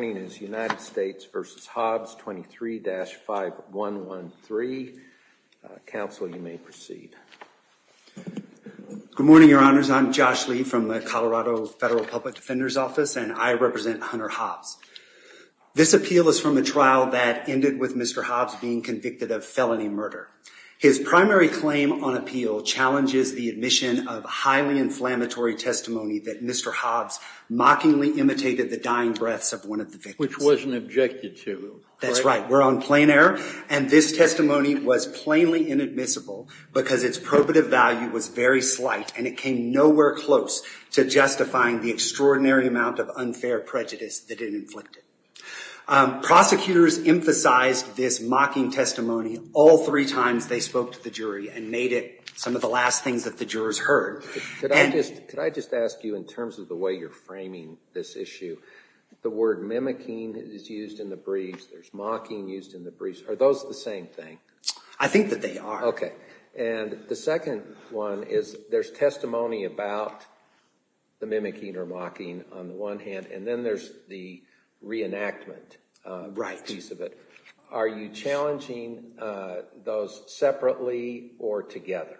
23-5113. Council you may proceed. Good morning your honors I'm Josh Lee from the Colorado Federal Public Defender's Office and I represent Hunter Hobbs. This appeal is from a trial that ended with Mr. Hobbs being convicted of felony murder. His primary claim on appeal challenges the admission of highly inflammatory testimony that Mr. Hobbs mockingly imitated the dying breaths of one of the victims. Which wasn't objected to. That's right we're on plain error and this testimony was plainly inadmissible because its probative value was very slight and it came nowhere close to justifying the extraordinary amount of unfair prejudice that it inflicted. Prosecutors emphasized this mocking testimony all three times they spoke to the jury and made it some of the last things that the jurors heard. Could I just ask you in terms of the way you're framing this issue the word mimicking is used in the briefs there's mocking used in the briefs are those the same thing? I think that they are. Okay and the second one is there's testimony about the mimicking or mocking on the one hand and then there's the reenactment piece of it. Right. Are you challenging those separately or together?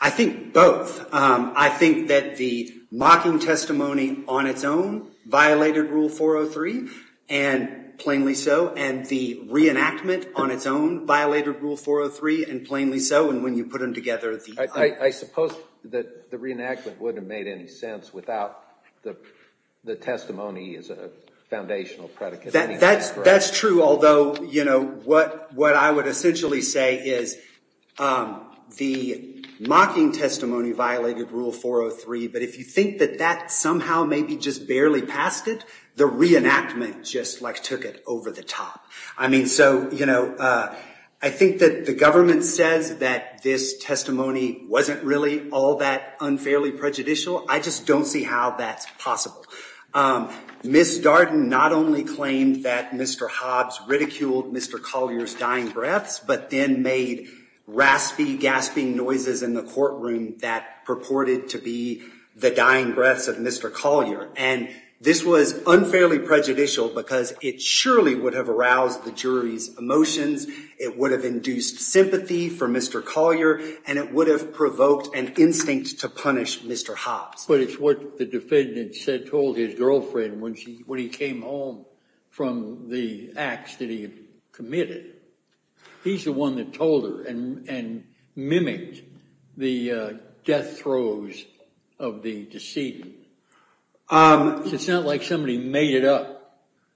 I think both. I think that the mocking testimony on its own violated rule 403 and plainly so and the reenactment on its own violated rule 403 and plainly so and when you put them together. I suppose that the reenactment wouldn't have made any sense without the testimony as a foundational predicate. That's true although you know what I would essentially say is the mocking testimony violated rule 403 but if you think that that somehow maybe just barely passed it the reenactment just like took it over the top. I mean so you know I think that the government says that this testimony wasn't really all that unfairly prejudicial I just don't see how that's possible. Ms. Darden not only claimed that Mr. Hobbs ridiculed Mr. Collier's dying breaths but then made raspy gasping noises in the courtroom that purported to be the dying breaths of Mr. Collier and this was unfairly prejudicial because it surely would have aroused the jury's emotions it would have induced sympathy for Mr. Collier and it would have provoked an instinct to punish Mr. Hobbs. But it's what the defendant said told his girlfriend when he came home from the acts that he had committed. He's the one that told her and mimicked the death throes of the deceit. It's not like somebody made it up.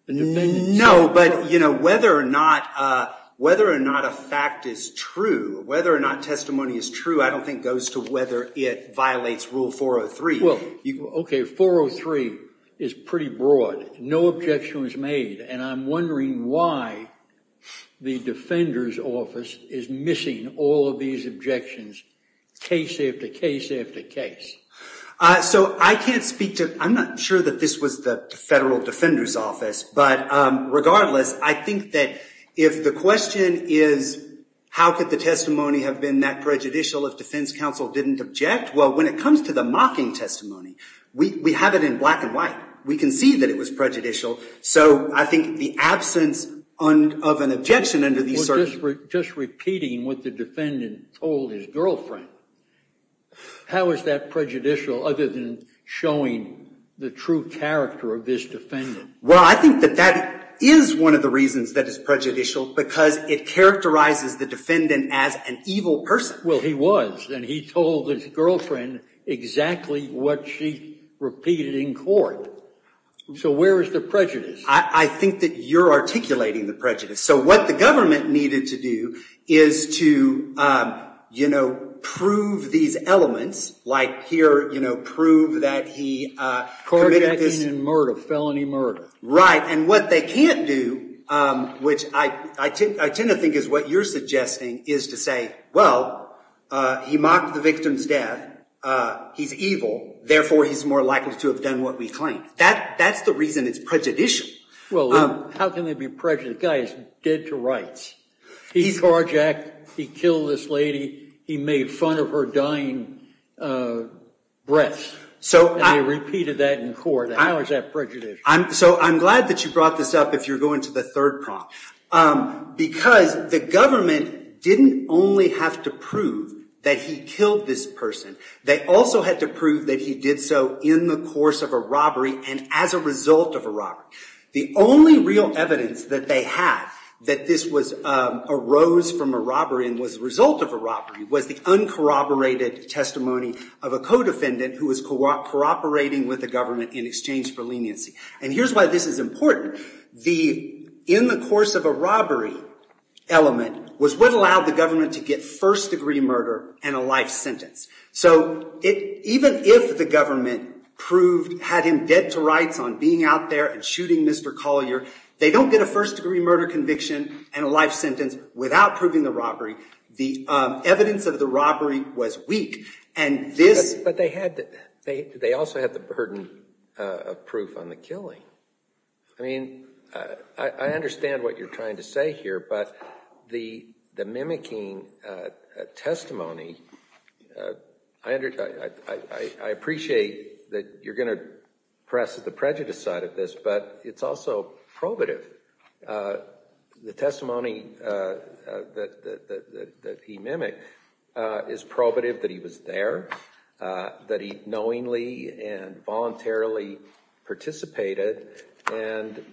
No but you know whether or not whether or not a fact is true whether or not testimony is true I don't think goes to whether it violates rule 403. Well okay 403 is pretty broad no objection was made and I'm wondering why the defender's office is missing all of these objections case after case after case. So I can't speak to I'm not sure that this was the federal defender's office but regardless I think that if the question is how could the testimony have been that prejudicial if defense counsel didn't object well when it comes to the mocking testimony we have it in black and white. We can see that it was prejudicial so I think the absence of an objection under these circumstances. Just repeating what the defendant told his girlfriend how is that prejudicial other than showing the true character of this defendant? Well I think that that is one of the reasons that is prejudicial because it characterizes the defendant as an evil person. Well he was and he told his girlfriend exactly what she repeated in court so where is the prejudice? I think that you're articulating the prejudice so what the government needed to do is to you know prove these elements like here you know prove that he committed this. Carjacking and murder felony murder. Right and what they can't do which I tend to think is what you're suggesting is to say well he mocked the victim's death. He's evil therefore he's more likely to have done what we claim. That's the reason it's prejudicial. Well how can they be prejudiced? The guy is dead to rights. He carjacked, he killed this lady, he made fun of her dying breath. So they repeated that in court. How is that prejudicial? So I'm glad that you brought this up if you're going to the third prompt because the government didn't only have to prove that he killed this person. They also had to prove that he did so in the course of a robbery and as a result of a robbery. The only real evidence that they had that this was arose from a robbery and was a result of a robbery was the uncorroborated testimony of a co-defendant who was cooperating with the government in exchange for leniency. And here's why this is important. The in the course of a robbery element was what allowed the government to get first degree murder and a life sentence. So even if the government had him dead to rights on being out there and shooting Mr. Collier, they don't get a first degree murder conviction and a life sentence without proving the robbery. The evidence of the robbery was weak. But they also had the burden of proof on the killing. I mean, I understand what you're trying to say here, but the mimicking testimony, I appreciate that you're going to press the prejudice side of this, but it's also probative. The testimony that he mimicked is probative that he was there, that he knowingly and voluntarily participated. And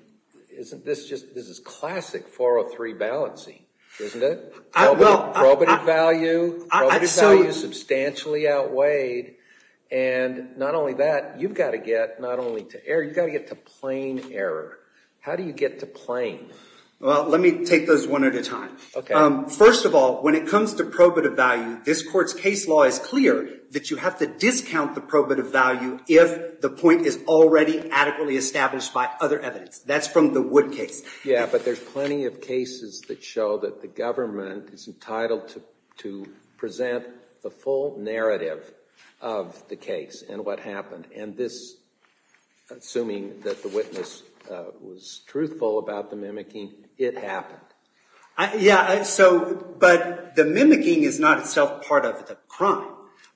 isn't this just this is classic 403 balancing, isn't it? Probative value, probative value substantially outweighed. And not only that, you've got to get not only to error, you've got to get to plain error. How do you get to plain? Well, let me take those one at a time. First of all, when it comes to probative value, this court's case law is clear that you have to discount the probative value if the point is already adequately established by other evidence. That's from the Wood case. Yeah, but there's plenty of cases that show that the government is entitled to present the full narrative of the case and what happened. And this, assuming that the witness was truthful about the mimicking, it happened. Yeah, but the mimicking is not itself part of the crime.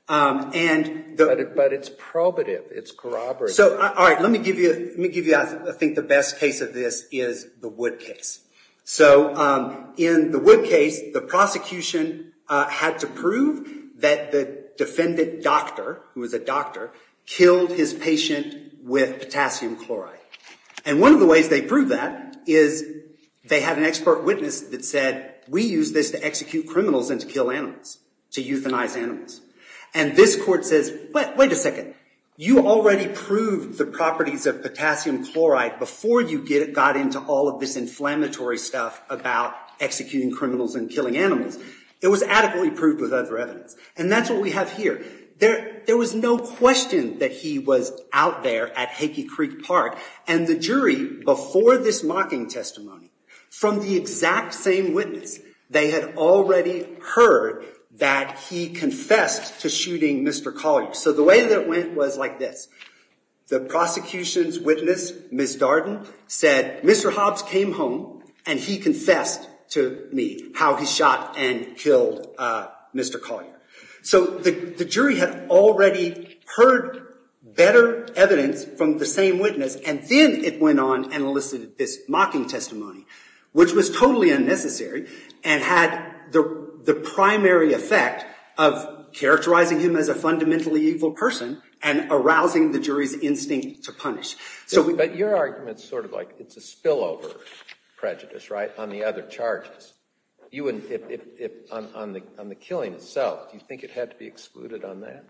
But it's probative. It's corroborative. All right, let me give you, I think, the best case of this is the Wood case. So in the Wood case, the prosecution had to prove that the defendant doctor, who was a doctor, killed his patient with potassium chloride. And one of the ways they proved that is they had an expert witness that said, we use this to execute criminals and to kill animals, to euthanize animals. And this court says, wait a second. You already proved the properties of potassium chloride before you got into all of this inflammatory stuff about executing criminals and killing animals. It was adequately proved with other evidence. And that's what we have here. There was no question that he was out there at Hickey Creek Park. And the jury, before this mocking testimony, from the exact same witness, they had already heard that he confessed to shooting Mr. Collier. So the way that it went was like this. The prosecution's witness, Ms. Darden, said, Mr. Hobbs came home and he confessed to me how he shot and killed Mr. Collier. So the jury had already heard better evidence from the same witness. And then it went on and elicited this mocking testimony, which was totally unnecessary and had the primary effect of characterizing him as a fundamentally evil person and arousing the jury's instinct to punish. But your argument's sort of like it's a spillover prejudice on the other charges. On the killing itself, do you think it had to be excluded on that?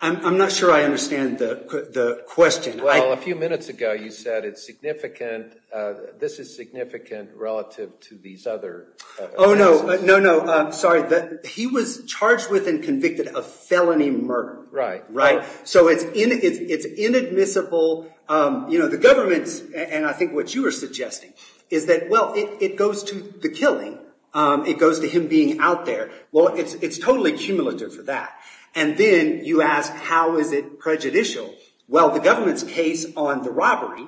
I'm not sure I understand the question. Well, a few minutes ago, you said it's significant. This is significant relative to these other cases. Oh, no. No, no. Sorry. He was charged with and convicted of felony murder. Right. Right. So it's inadmissible. You know, the government's, and I think what you were suggesting, is that, well, it goes to the killing. It goes to him being out there. Well, it's totally cumulative for that. And then you ask, how is it prejudicial? Well, the government's case on the robbery,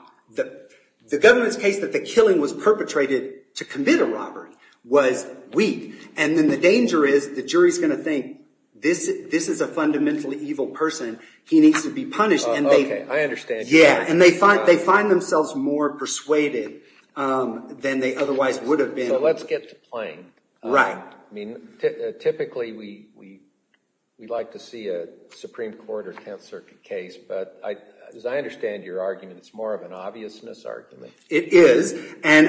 the government's case that the killing was perpetrated to commit a robbery was weak. And then the danger is the jury's going to think, this is a fundamentally evil person. He needs to be punished. OK. I understand. Yeah. And they find themselves more persuaded than they otherwise would have been. So let's get to playing. Right. I mean, typically, we'd like to see a Supreme Court or Tenth Circuit case. But as I understand your argument, it's more of an obviousness argument. It is. And,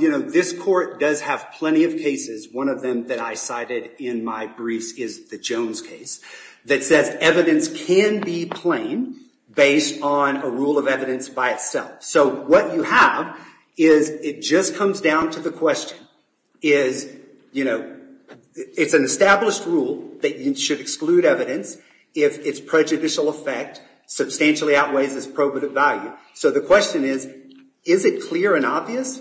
you know, this court does have plenty of cases. One of them that I cited in my briefs is the Jones case that says evidence can be plain based on a rule of evidence by itself. So what you have is it just comes down to the question is, you know, it's an established rule that you should exclude evidence if its prejudicial effect substantially outweighs its probative value. So the question is, is it clear and obvious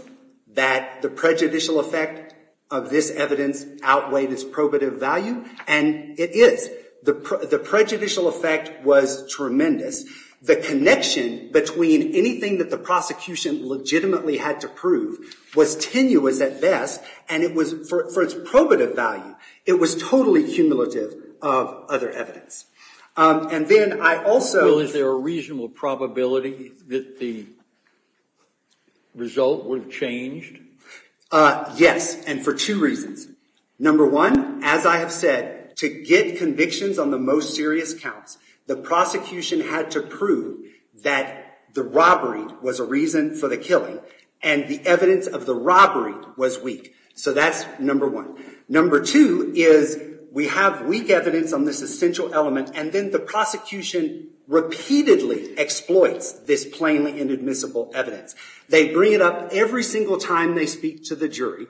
that the prejudicial effect of this evidence outweighed its probative value? And it is. The prejudicial effect was tremendous. The connection between anything that the prosecution legitimately had to prove was tenuous at best. And for its probative value, it was totally cumulative of other evidence. And then I also— Is there a reasonable probability that the result would have changed? Yes, and for two reasons. Number one, as I have said, to get convictions on the most serious counts, the prosecution had to prove that the robbery was a reason for the killing and the evidence of the robbery was weak. So that's number one. Number two is we have weak evidence on this essential element, and then the prosecution repeatedly exploits this plainly inadmissible evidence. They bring it up every single time they speak to the jury,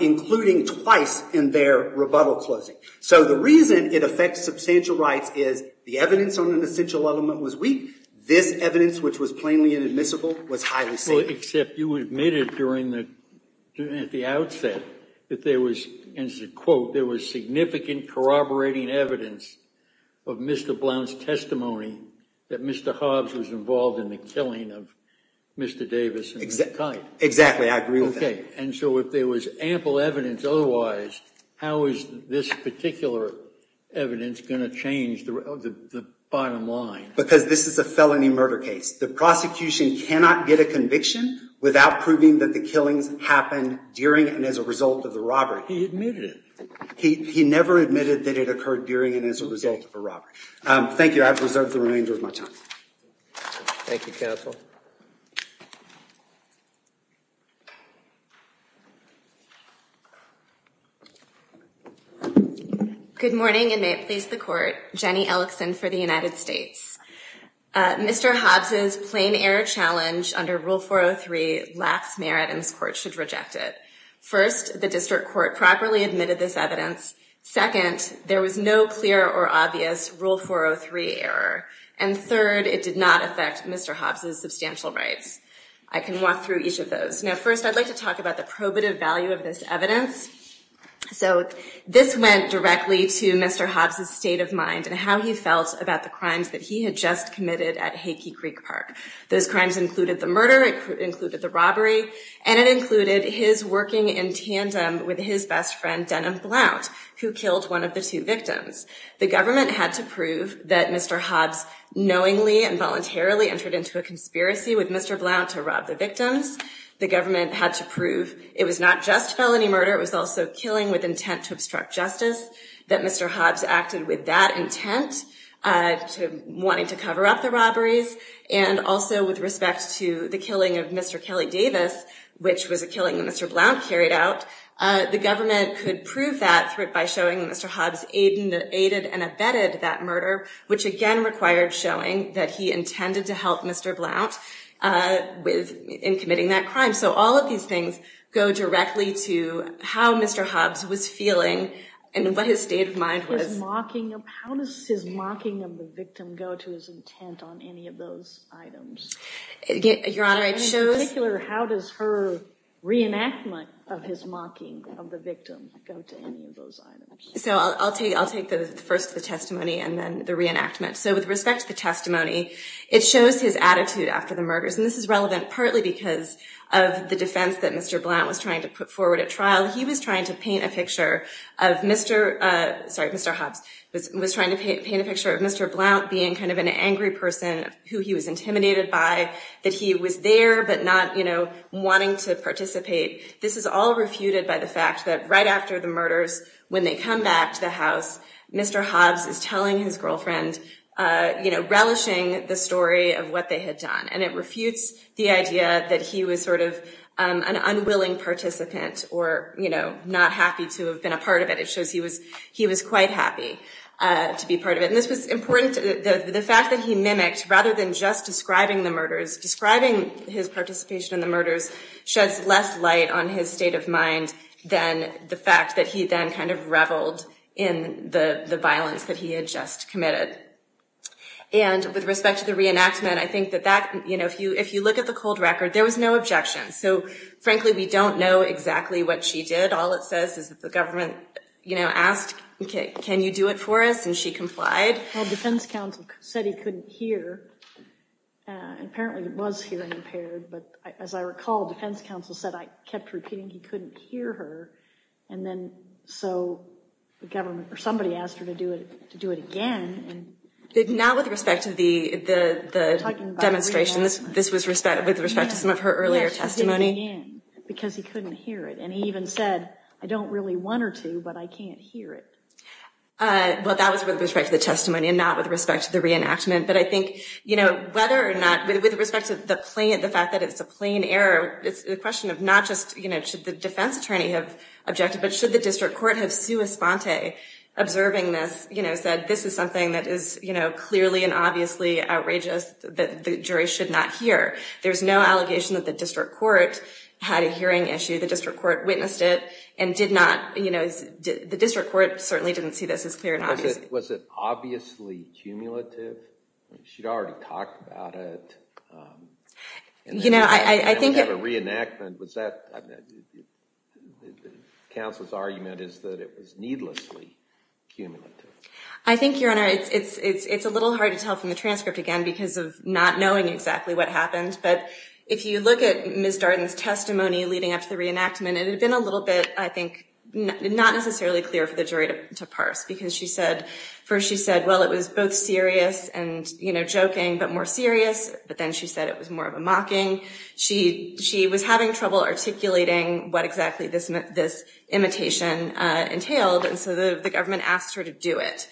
including twice in their rebuttal closing. So the reason it affects substantial rights is the evidence on an essential element was weak. This evidence, which was plainly inadmissible, was highly safe. Well, except you admitted at the outset that there was, and this is a quote, there was significant corroborating evidence of Mr. Blount's testimony that Mr. Hobbs was involved in the killing of Mr. Davis. Exactly, I agree with that. Okay, and so if there was ample evidence otherwise, how is this particular evidence going to change the bottom line? Because this is a felony murder case. The prosecution cannot get a conviction without proving that the killings happened during and as a result of the robbery. He admitted it. He never admitted that it occurred during and as a result of a robbery. Thank you. I've reserved the remainder of my time. Thank you, counsel. Good morning, and may it please the Court. Jenny Ellickson for the United States. Mr. Hobbs's plain error challenge under Rule 403 lacks merit, and this Court should reject it. First, the district court properly admitted this evidence. Second, there was no clear or obvious Rule 403 error. And third, it did not affect Mr. Hobbs's substantial rights. I can walk through each of those. Now, first, I'd like to talk about the probative value of this evidence. So this went directly to Mr. Hobbs's state of mind and how he felt about the crimes that he had just committed at Hakey Creek Park. Those crimes included the murder, included the robbery, and it included his working in tandem with his best friend, Denham Blount, who killed one of the two victims. The government had to prove that Mr. Hobbs knowingly and voluntarily entered into a conspiracy with Mr. Blount to rob the victims. The government had to prove it was not just felony murder. It was also killing with intent to obstruct justice, that Mr. Hobbs acted with that intent, wanting to cover up the robberies. And also, with respect to the killing of Mr. Kelly Davis, which was a killing that Mr. Blount carried out, the government could prove that threat by showing that Mr. Hobbs aided and abetted that murder, which again required showing that he intended to help Mr. Blount in committing that crime. So all of these things go directly to how Mr. Hobbs was feeling and what his state of mind was. How does his mocking of the victim go to his intent on any of those items? Your Honor, it shows— In particular, how does her reenactment of his mocking of the victim go to any of those items? So I'll take first the testimony and then the reenactment. So with respect to the testimony, it shows his attitude after the murders. And this is relevant partly because of the defense that Mr. Blount was trying to put forward at trial. He was trying to paint a picture of Mr.—sorry, Mr. Hobbs was trying to paint a picture of Mr. Blount being kind of an angry person, who he was intimidated by, that he was there but not wanting to participate. This is all refuted by the fact that right after the murders, when they come back to the house, Mr. Hobbs is telling his girlfriend, you know, relishing the story of what they had done. And it refutes the idea that he was sort of an unwilling participant or, you know, not happy to have been a part of it. It shows he was quite happy to be part of it. And this was important—the fact that he mimicked, rather than just describing the murders, sheds less light on his state of mind than the fact that he then kind of reveled in the violence that he had just committed. And with respect to the reenactment, I think that that—you know, if you look at the cold record, there was no objection. So frankly, we don't know exactly what she did. All it says is that the government, you know, asked, can you do it for us? And she complied. Well, defense counsel said he couldn't hear. Apparently, it was hearing impaired. But as I recall, defense counsel said—I kept repeating—he couldn't hear her. And then so the government—or somebody asked her to do it again. Now, with respect to the demonstrations, this was with respect to some of her earlier testimony. Because he couldn't hear it. And he even said, I don't really want her to, but I can't hear it. Well, that was with respect to the testimony and not with respect to the reenactment. But I think, you know, whether or not—with respect to the fact that it's a plain error, it's a question of not just, you know, should the defense attorney have objected, but should the district court have sua sponte, observing this, you know, said, this is something that is, you know, clearly and obviously outrageous that the jury should not hear. There's no allegation that the district court had a hearing issue. The district court witnessed it and did not—you know, the district court certainly didn't see this as clear and obvious. Was it obviously cumulative? She'd already talked about it. You know, I think— And we have a reenactment. Was that—the counsel's argument is that it was needlessly cumulative. I think, Your Honor, it's a little hard to tell from the transcript again because of not knowing exactly what happened. But if you look at Ms. Darden's testimony leading up to the reenactment, it had been a little bit, I think, not necessarily clear for the jury to parse because she said—first she said, well, it was both serious and, you know, joking, but more serious, but then she said it was more of a mocking. She was having trouble articulating what exactly this imitation entailed, and so the government asked her to do it.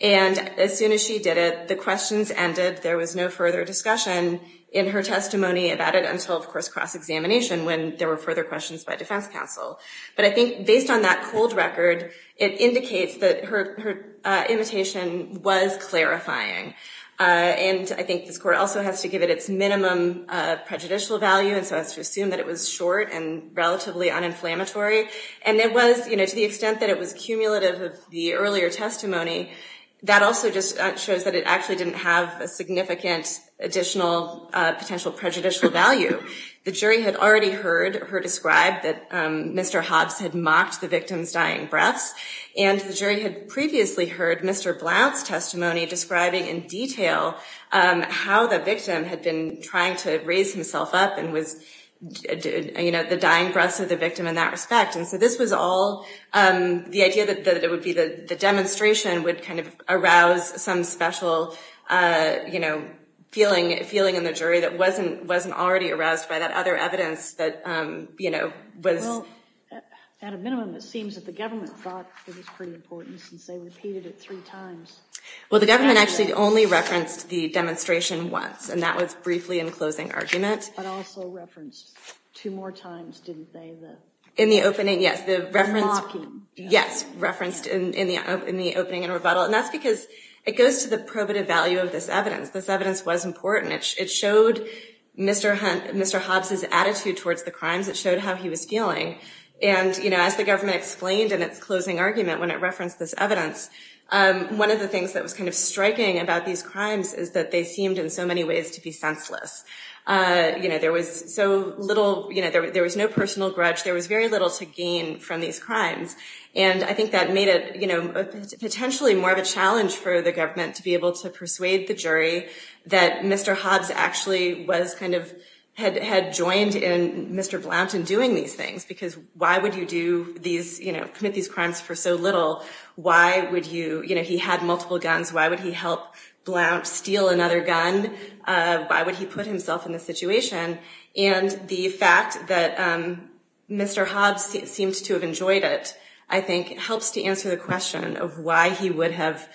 And as soon as she did it, the questions ended. There was no further discussion in her testimony about it until, of course, cross-examination when there were further questions by defense counsel. But I think based on that cold record, it indicates that her imitation was clarifying. And I think this court also has to give it its minimum prejudicial value and so has to assume that it was short and relatively uninflammatory. And it was, you know, to the extent that it was cumulative of the earlier testimony, that also just shows that it actually didn't have a significant additional potential prejudicial value. The jury had already heard her describe that Mr. Hobbs had mocked the victim's dying breaths, and the jury had previously heard Mr. Blount's testimony describing in detail how the victim had been trying to raise himself up and was, you know, the dying breaths of the victim in that respect. And so this was all the idea that it would be the demonstration would kind of arouse some special, you know, feeling in the jury that wasn't already aroused by that other evidence that, you know, was. Well, at a minimum, it seems that the government thought it was pretty important since they repeated it three times. Well, the government actually only referenced the demonstration once, and that was briefly in closing argument. But also referenced two more times, didn't they? In the opening, yes. The reference. Yes, referenced in the opening in rebuttal. And that's because it goes to the probative value of this evidence. This evidence was important. It showed Mr. Hobbs' attitude towards the crimes. It showed how he was feeling. And, you know, as the government explained in its closing argument when it referenced this evidence, one of the things that was kind of striking about these crimes is that they seemed in so many ways to be senseless. You know, there was so little, you know, there was no personal grudge. There was very little to gain from these crimes. And I think that made it, you know, potentially more of a challenge for the government to be able to persuade the jury that Mr. Hobbs actually was kind of, had joined in Mr. Blount in doing these things because why would you do these, you know, commit these crimes for so little? Why would you, you know, he had multiple guns. Why would he help Blount steal another gun? Why would he put himself in this situation? And the fact that Mr. Hobbs seemed to have enjoyed it, I think, helps to answer the question of why he would have,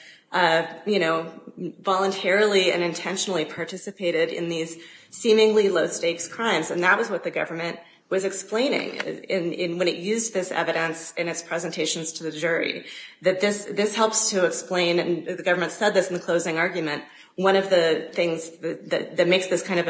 you know, voluntarily and intentionally participated in these seemingly low-stakes crimes. And that was what the government was explaining when it used this evidence in its presentations to the jury, that this helps to explain, and the government said this in the closing argument, one of the things that makes this kind of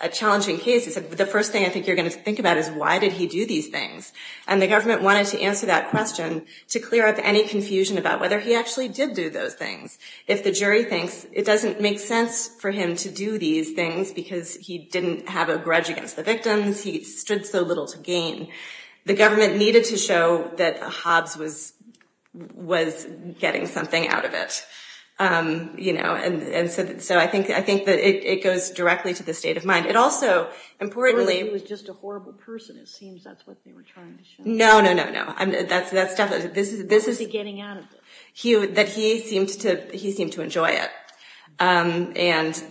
a challenging case is that the first thing I think you're going to think about is why did he do these things? And the government wanted to answer that question to clear up any confusion about whether he actually did do those things. If the jury thinks it doesn't make sense for him to do these things because he didn't have a grudge against the victims, he stood so little to gain, the government needed to show that Hobbs was getting something out of it. You know, and so I think that it goes directly to the state of mind. It also, importantly— Or he was just a horrible person, it seems that's what they were trying to show. No, no, no, no. That's definitely— What was he getting out of it? That he seemed to enjoy it. And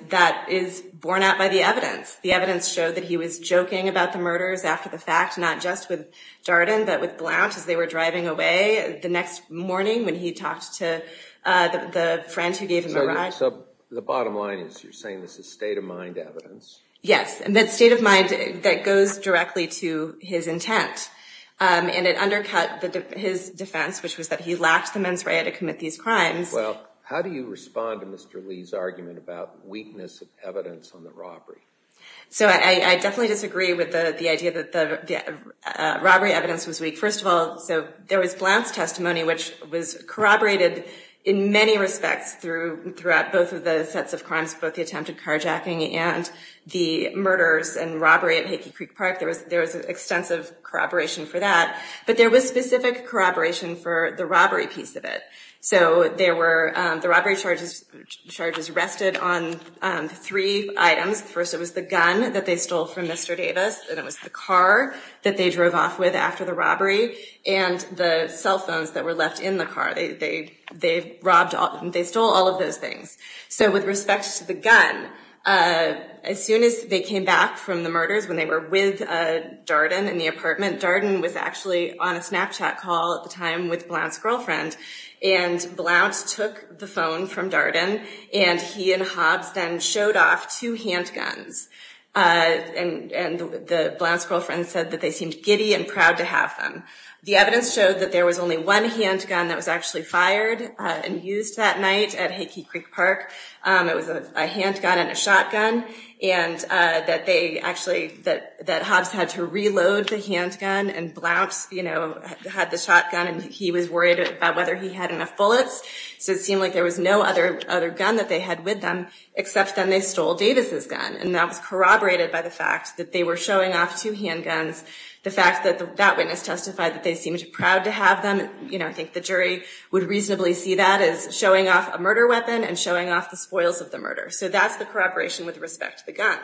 that is borne out by the evidence. The evidence showed that he was joking about the murders after the fact, not just with Darden, but with Blount as they were driving away the next morning when he talked to the friend who gave him a ride. So the bottom line is you're saying this is state of mind evidence? Yes, and that state of mind that goes directly to his intent. And it undercut his defense, which was that he lacked the mens rea to commit these crimes. Well, how do you respond to Mr. Lee's argument about weakness of evidence on the robbery? So I definitely disagree with the idea that the robbery evidence was weak. First of all, so there was Blount's testimony, which was corroborated in many respects throughout both of the sets of crimes, both the attempted carjacking and the murders and robbery at Hickey Creek Park. There was extensive corroboration for that. But there was specific corroboration for the robbery piece of it. So there were the robbery charges arrested on three items. First, it was the gun that they stole from Mr. Davis, and it was the car that they drove off with after the robbery and the cell phones that were left in the car. They robbed, they stole all of those things. So with respect to the gun, as soon as they came back from the murders when they were with Darden in the apartment, Darden was actually on a Snapchat call at the time with Blount's girlfriend. And Blount took the phone from Darden, and he and Hobbs then showed off two handguns. And Blount's girlfriend said that they seemed giddy and proud to have them. The evidence showed that there was only one handgun that was actually fired and used that night at Hickey Creek Park. It was a handgun and a shotgun, and that they actually, that Hobbs had to reload the handgun, and Blount had the shotgun, and he was worried about whether he had enough bullets. So it seemed like there was no other gun that they had with them, except then they stole Davis's gun. And that was corroborated by the fact that they were showing off two handguns. The fact that that witness testified that they seemed proud to have them, I think the jury would reasonably see that as showing off a murder weapon and showing off the spoils of the murder. So that's the corroboration with respect to the gun.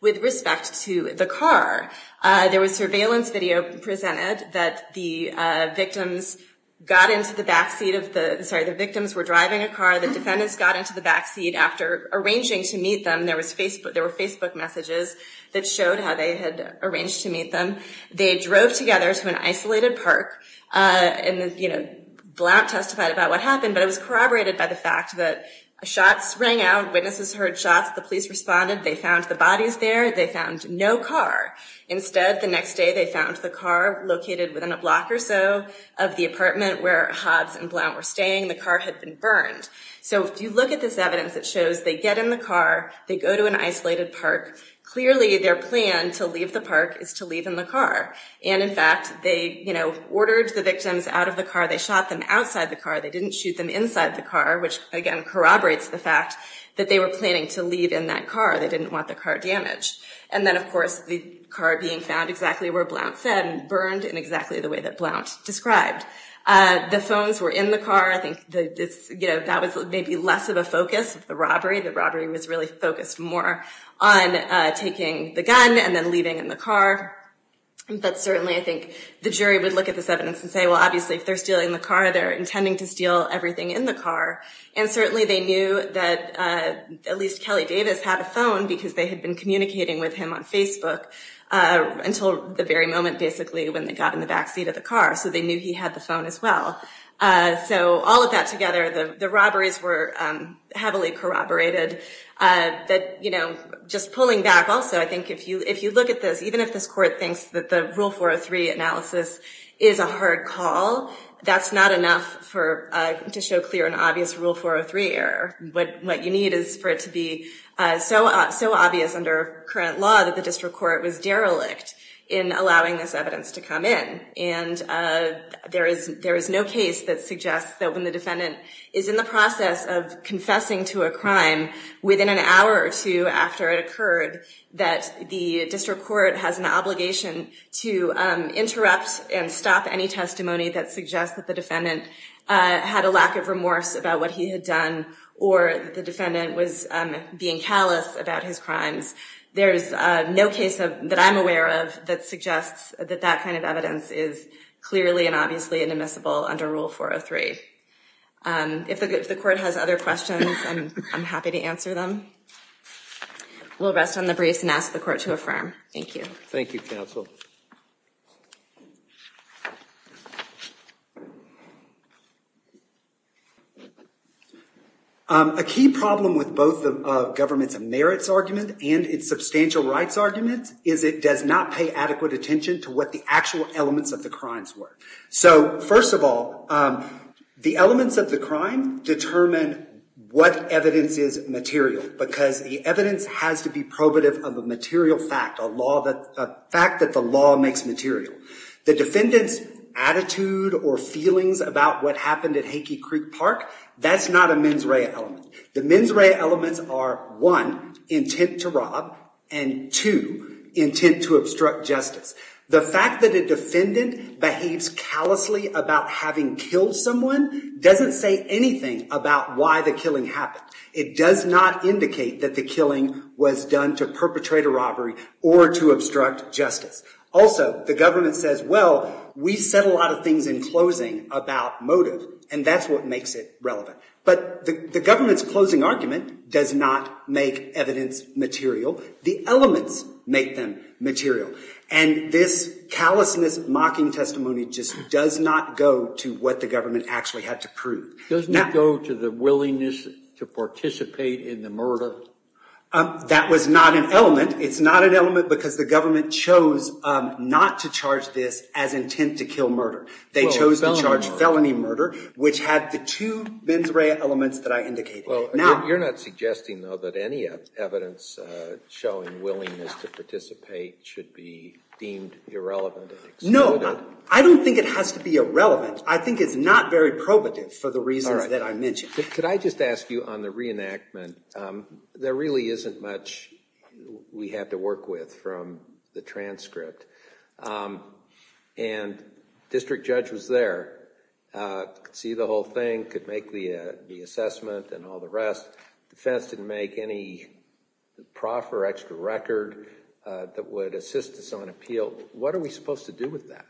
With respect to the car, there was surveillance video presented that the victims got into the backseat of the, sorry, the victims were driving a car. The defendants got into the backseat after arranging to meet them. There were Facebook messages that showed how they had arranged to meet them. They drove together to an isolated park, and Blount testified about what happened, but it was corroborated by the fact that shots rang out, witnesses heard shots, the police responded, they found the bodies there, they found no car. Instead, the next day they found the car located within a block or so of the apartment where Hobbs and Blount were staying. The car had been burned. So if you look at this evidence, it shows they get in the car, they go to an isolated park, clearly their plan to leave the park is to leave in the car. And in fact, they ordered the victims out of the car, they shot them outside the car, they didn't shoot them inside the car, which again corroborates the fact that they were planning to leave in that car. They didn't want the car damaged. And then, of course, the car being found exactly where Blount said, burned in exactly the way that Blount described. The phones were in the car. I think that was maybe less of a focus of the robbery. The robbery was really focused more on taking the gun and then leaving in the car. But certainly I think the jury would look at this evidence and say, well, obviously if they're stealing the car, they're intending to steal everything in the car. And certainly they knew that at least Kelly Davis had a phone because they had been communicating with him on Facebook until the very moment, basically, when they got in the back seat of the car. So they knew he had the phone as well. So all of that together, the robberies were heavily corroborated. Just pulling back also, I think if you look at this, even if this court thinks that the Rule 403 analysis is a hard call, that's not enough to show clear and obvious Rule 403 error. What you need is for it to be so obvious under current law that the district court was derelict in allowing this evidence to come in. And there is no case that suggests that when the defendant is in the process of confessing to a crime, within an hour or two after it occurred, that the district court has an obligation to interrupt and stop any testimony that suggests that the defendant had a lack of remorse about what he had done or that the defendant was being callous about his crimes. There is no case that I'm aware of that suggests that that kind of evidence is clearly and obviously inadmissible under Rule 403. If the court has other questions, I'm happy to answer them. We'll rest on the briefs and ask the court to affirm. Thank you. Thank you, counsel. A key problem with both the government's merits argument and its substantial rights argument is it does not pay adequate attention to what the actual elements of the crimes were. So, first of all, the elements of the crime determine what evidence is material because the evidence has to be probative of a material fact, a fact that the law makes material. The defendant's attitude or feelings about what happened at Hakey Creek Park, that's not a mens rea element. The mens rea elements are, one, intent to rob, and two, intent to obstruct justice. The fact that a defendant behaves callously about having killed someone doesn't say anything about why the killing happened. It does not indicate that the killing was done to perpetrate a robbery or to obstruct justice. Also, the government says, well, we said a lot of things in closing about motive, and that's what makes it relevant. But the government's closing argument does not make evidence material. The elements make them material. And this callousness mocking testimony just does not go to what the government actually had to prove. Doesn't it go to the willingness to participate in the murder? That was not an element. It's not an element because the government chose not to charge this as intent to kill murder. They chose to charge felony murder, which had the two mens rea elements that I indicated. Well, you're not suggesting, though, that any evidence showing willingness to participate should be deemed irrelevant? No, I don't think it has to be irrelevant. I think it's not very probative for the reasons that I mentioned. Could I just ask you on the reenactment, there really isn't much we have to work with from the transcript. And district judge was there, could see the whole thing, could make the assessment and all the rest. Defense didn't make any proff or extra record that would assist us on appeal. What are we supposed to do with that?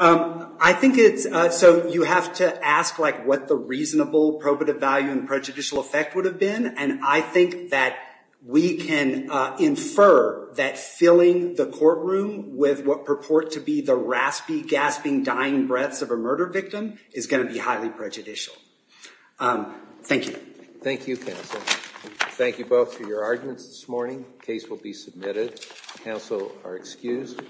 I think it's so you have to ask like what the reasonable probative value and prejudicial effect would have been. And I think that we can infer that filling the courtroom with what purport to be the raspy, gasping, dying breaths of a murder victim is going to be highly prejudicial. Thank you. Thank you, counsel. Thank you both for your arguments this morning. Case will be submitted. Counsel are excused.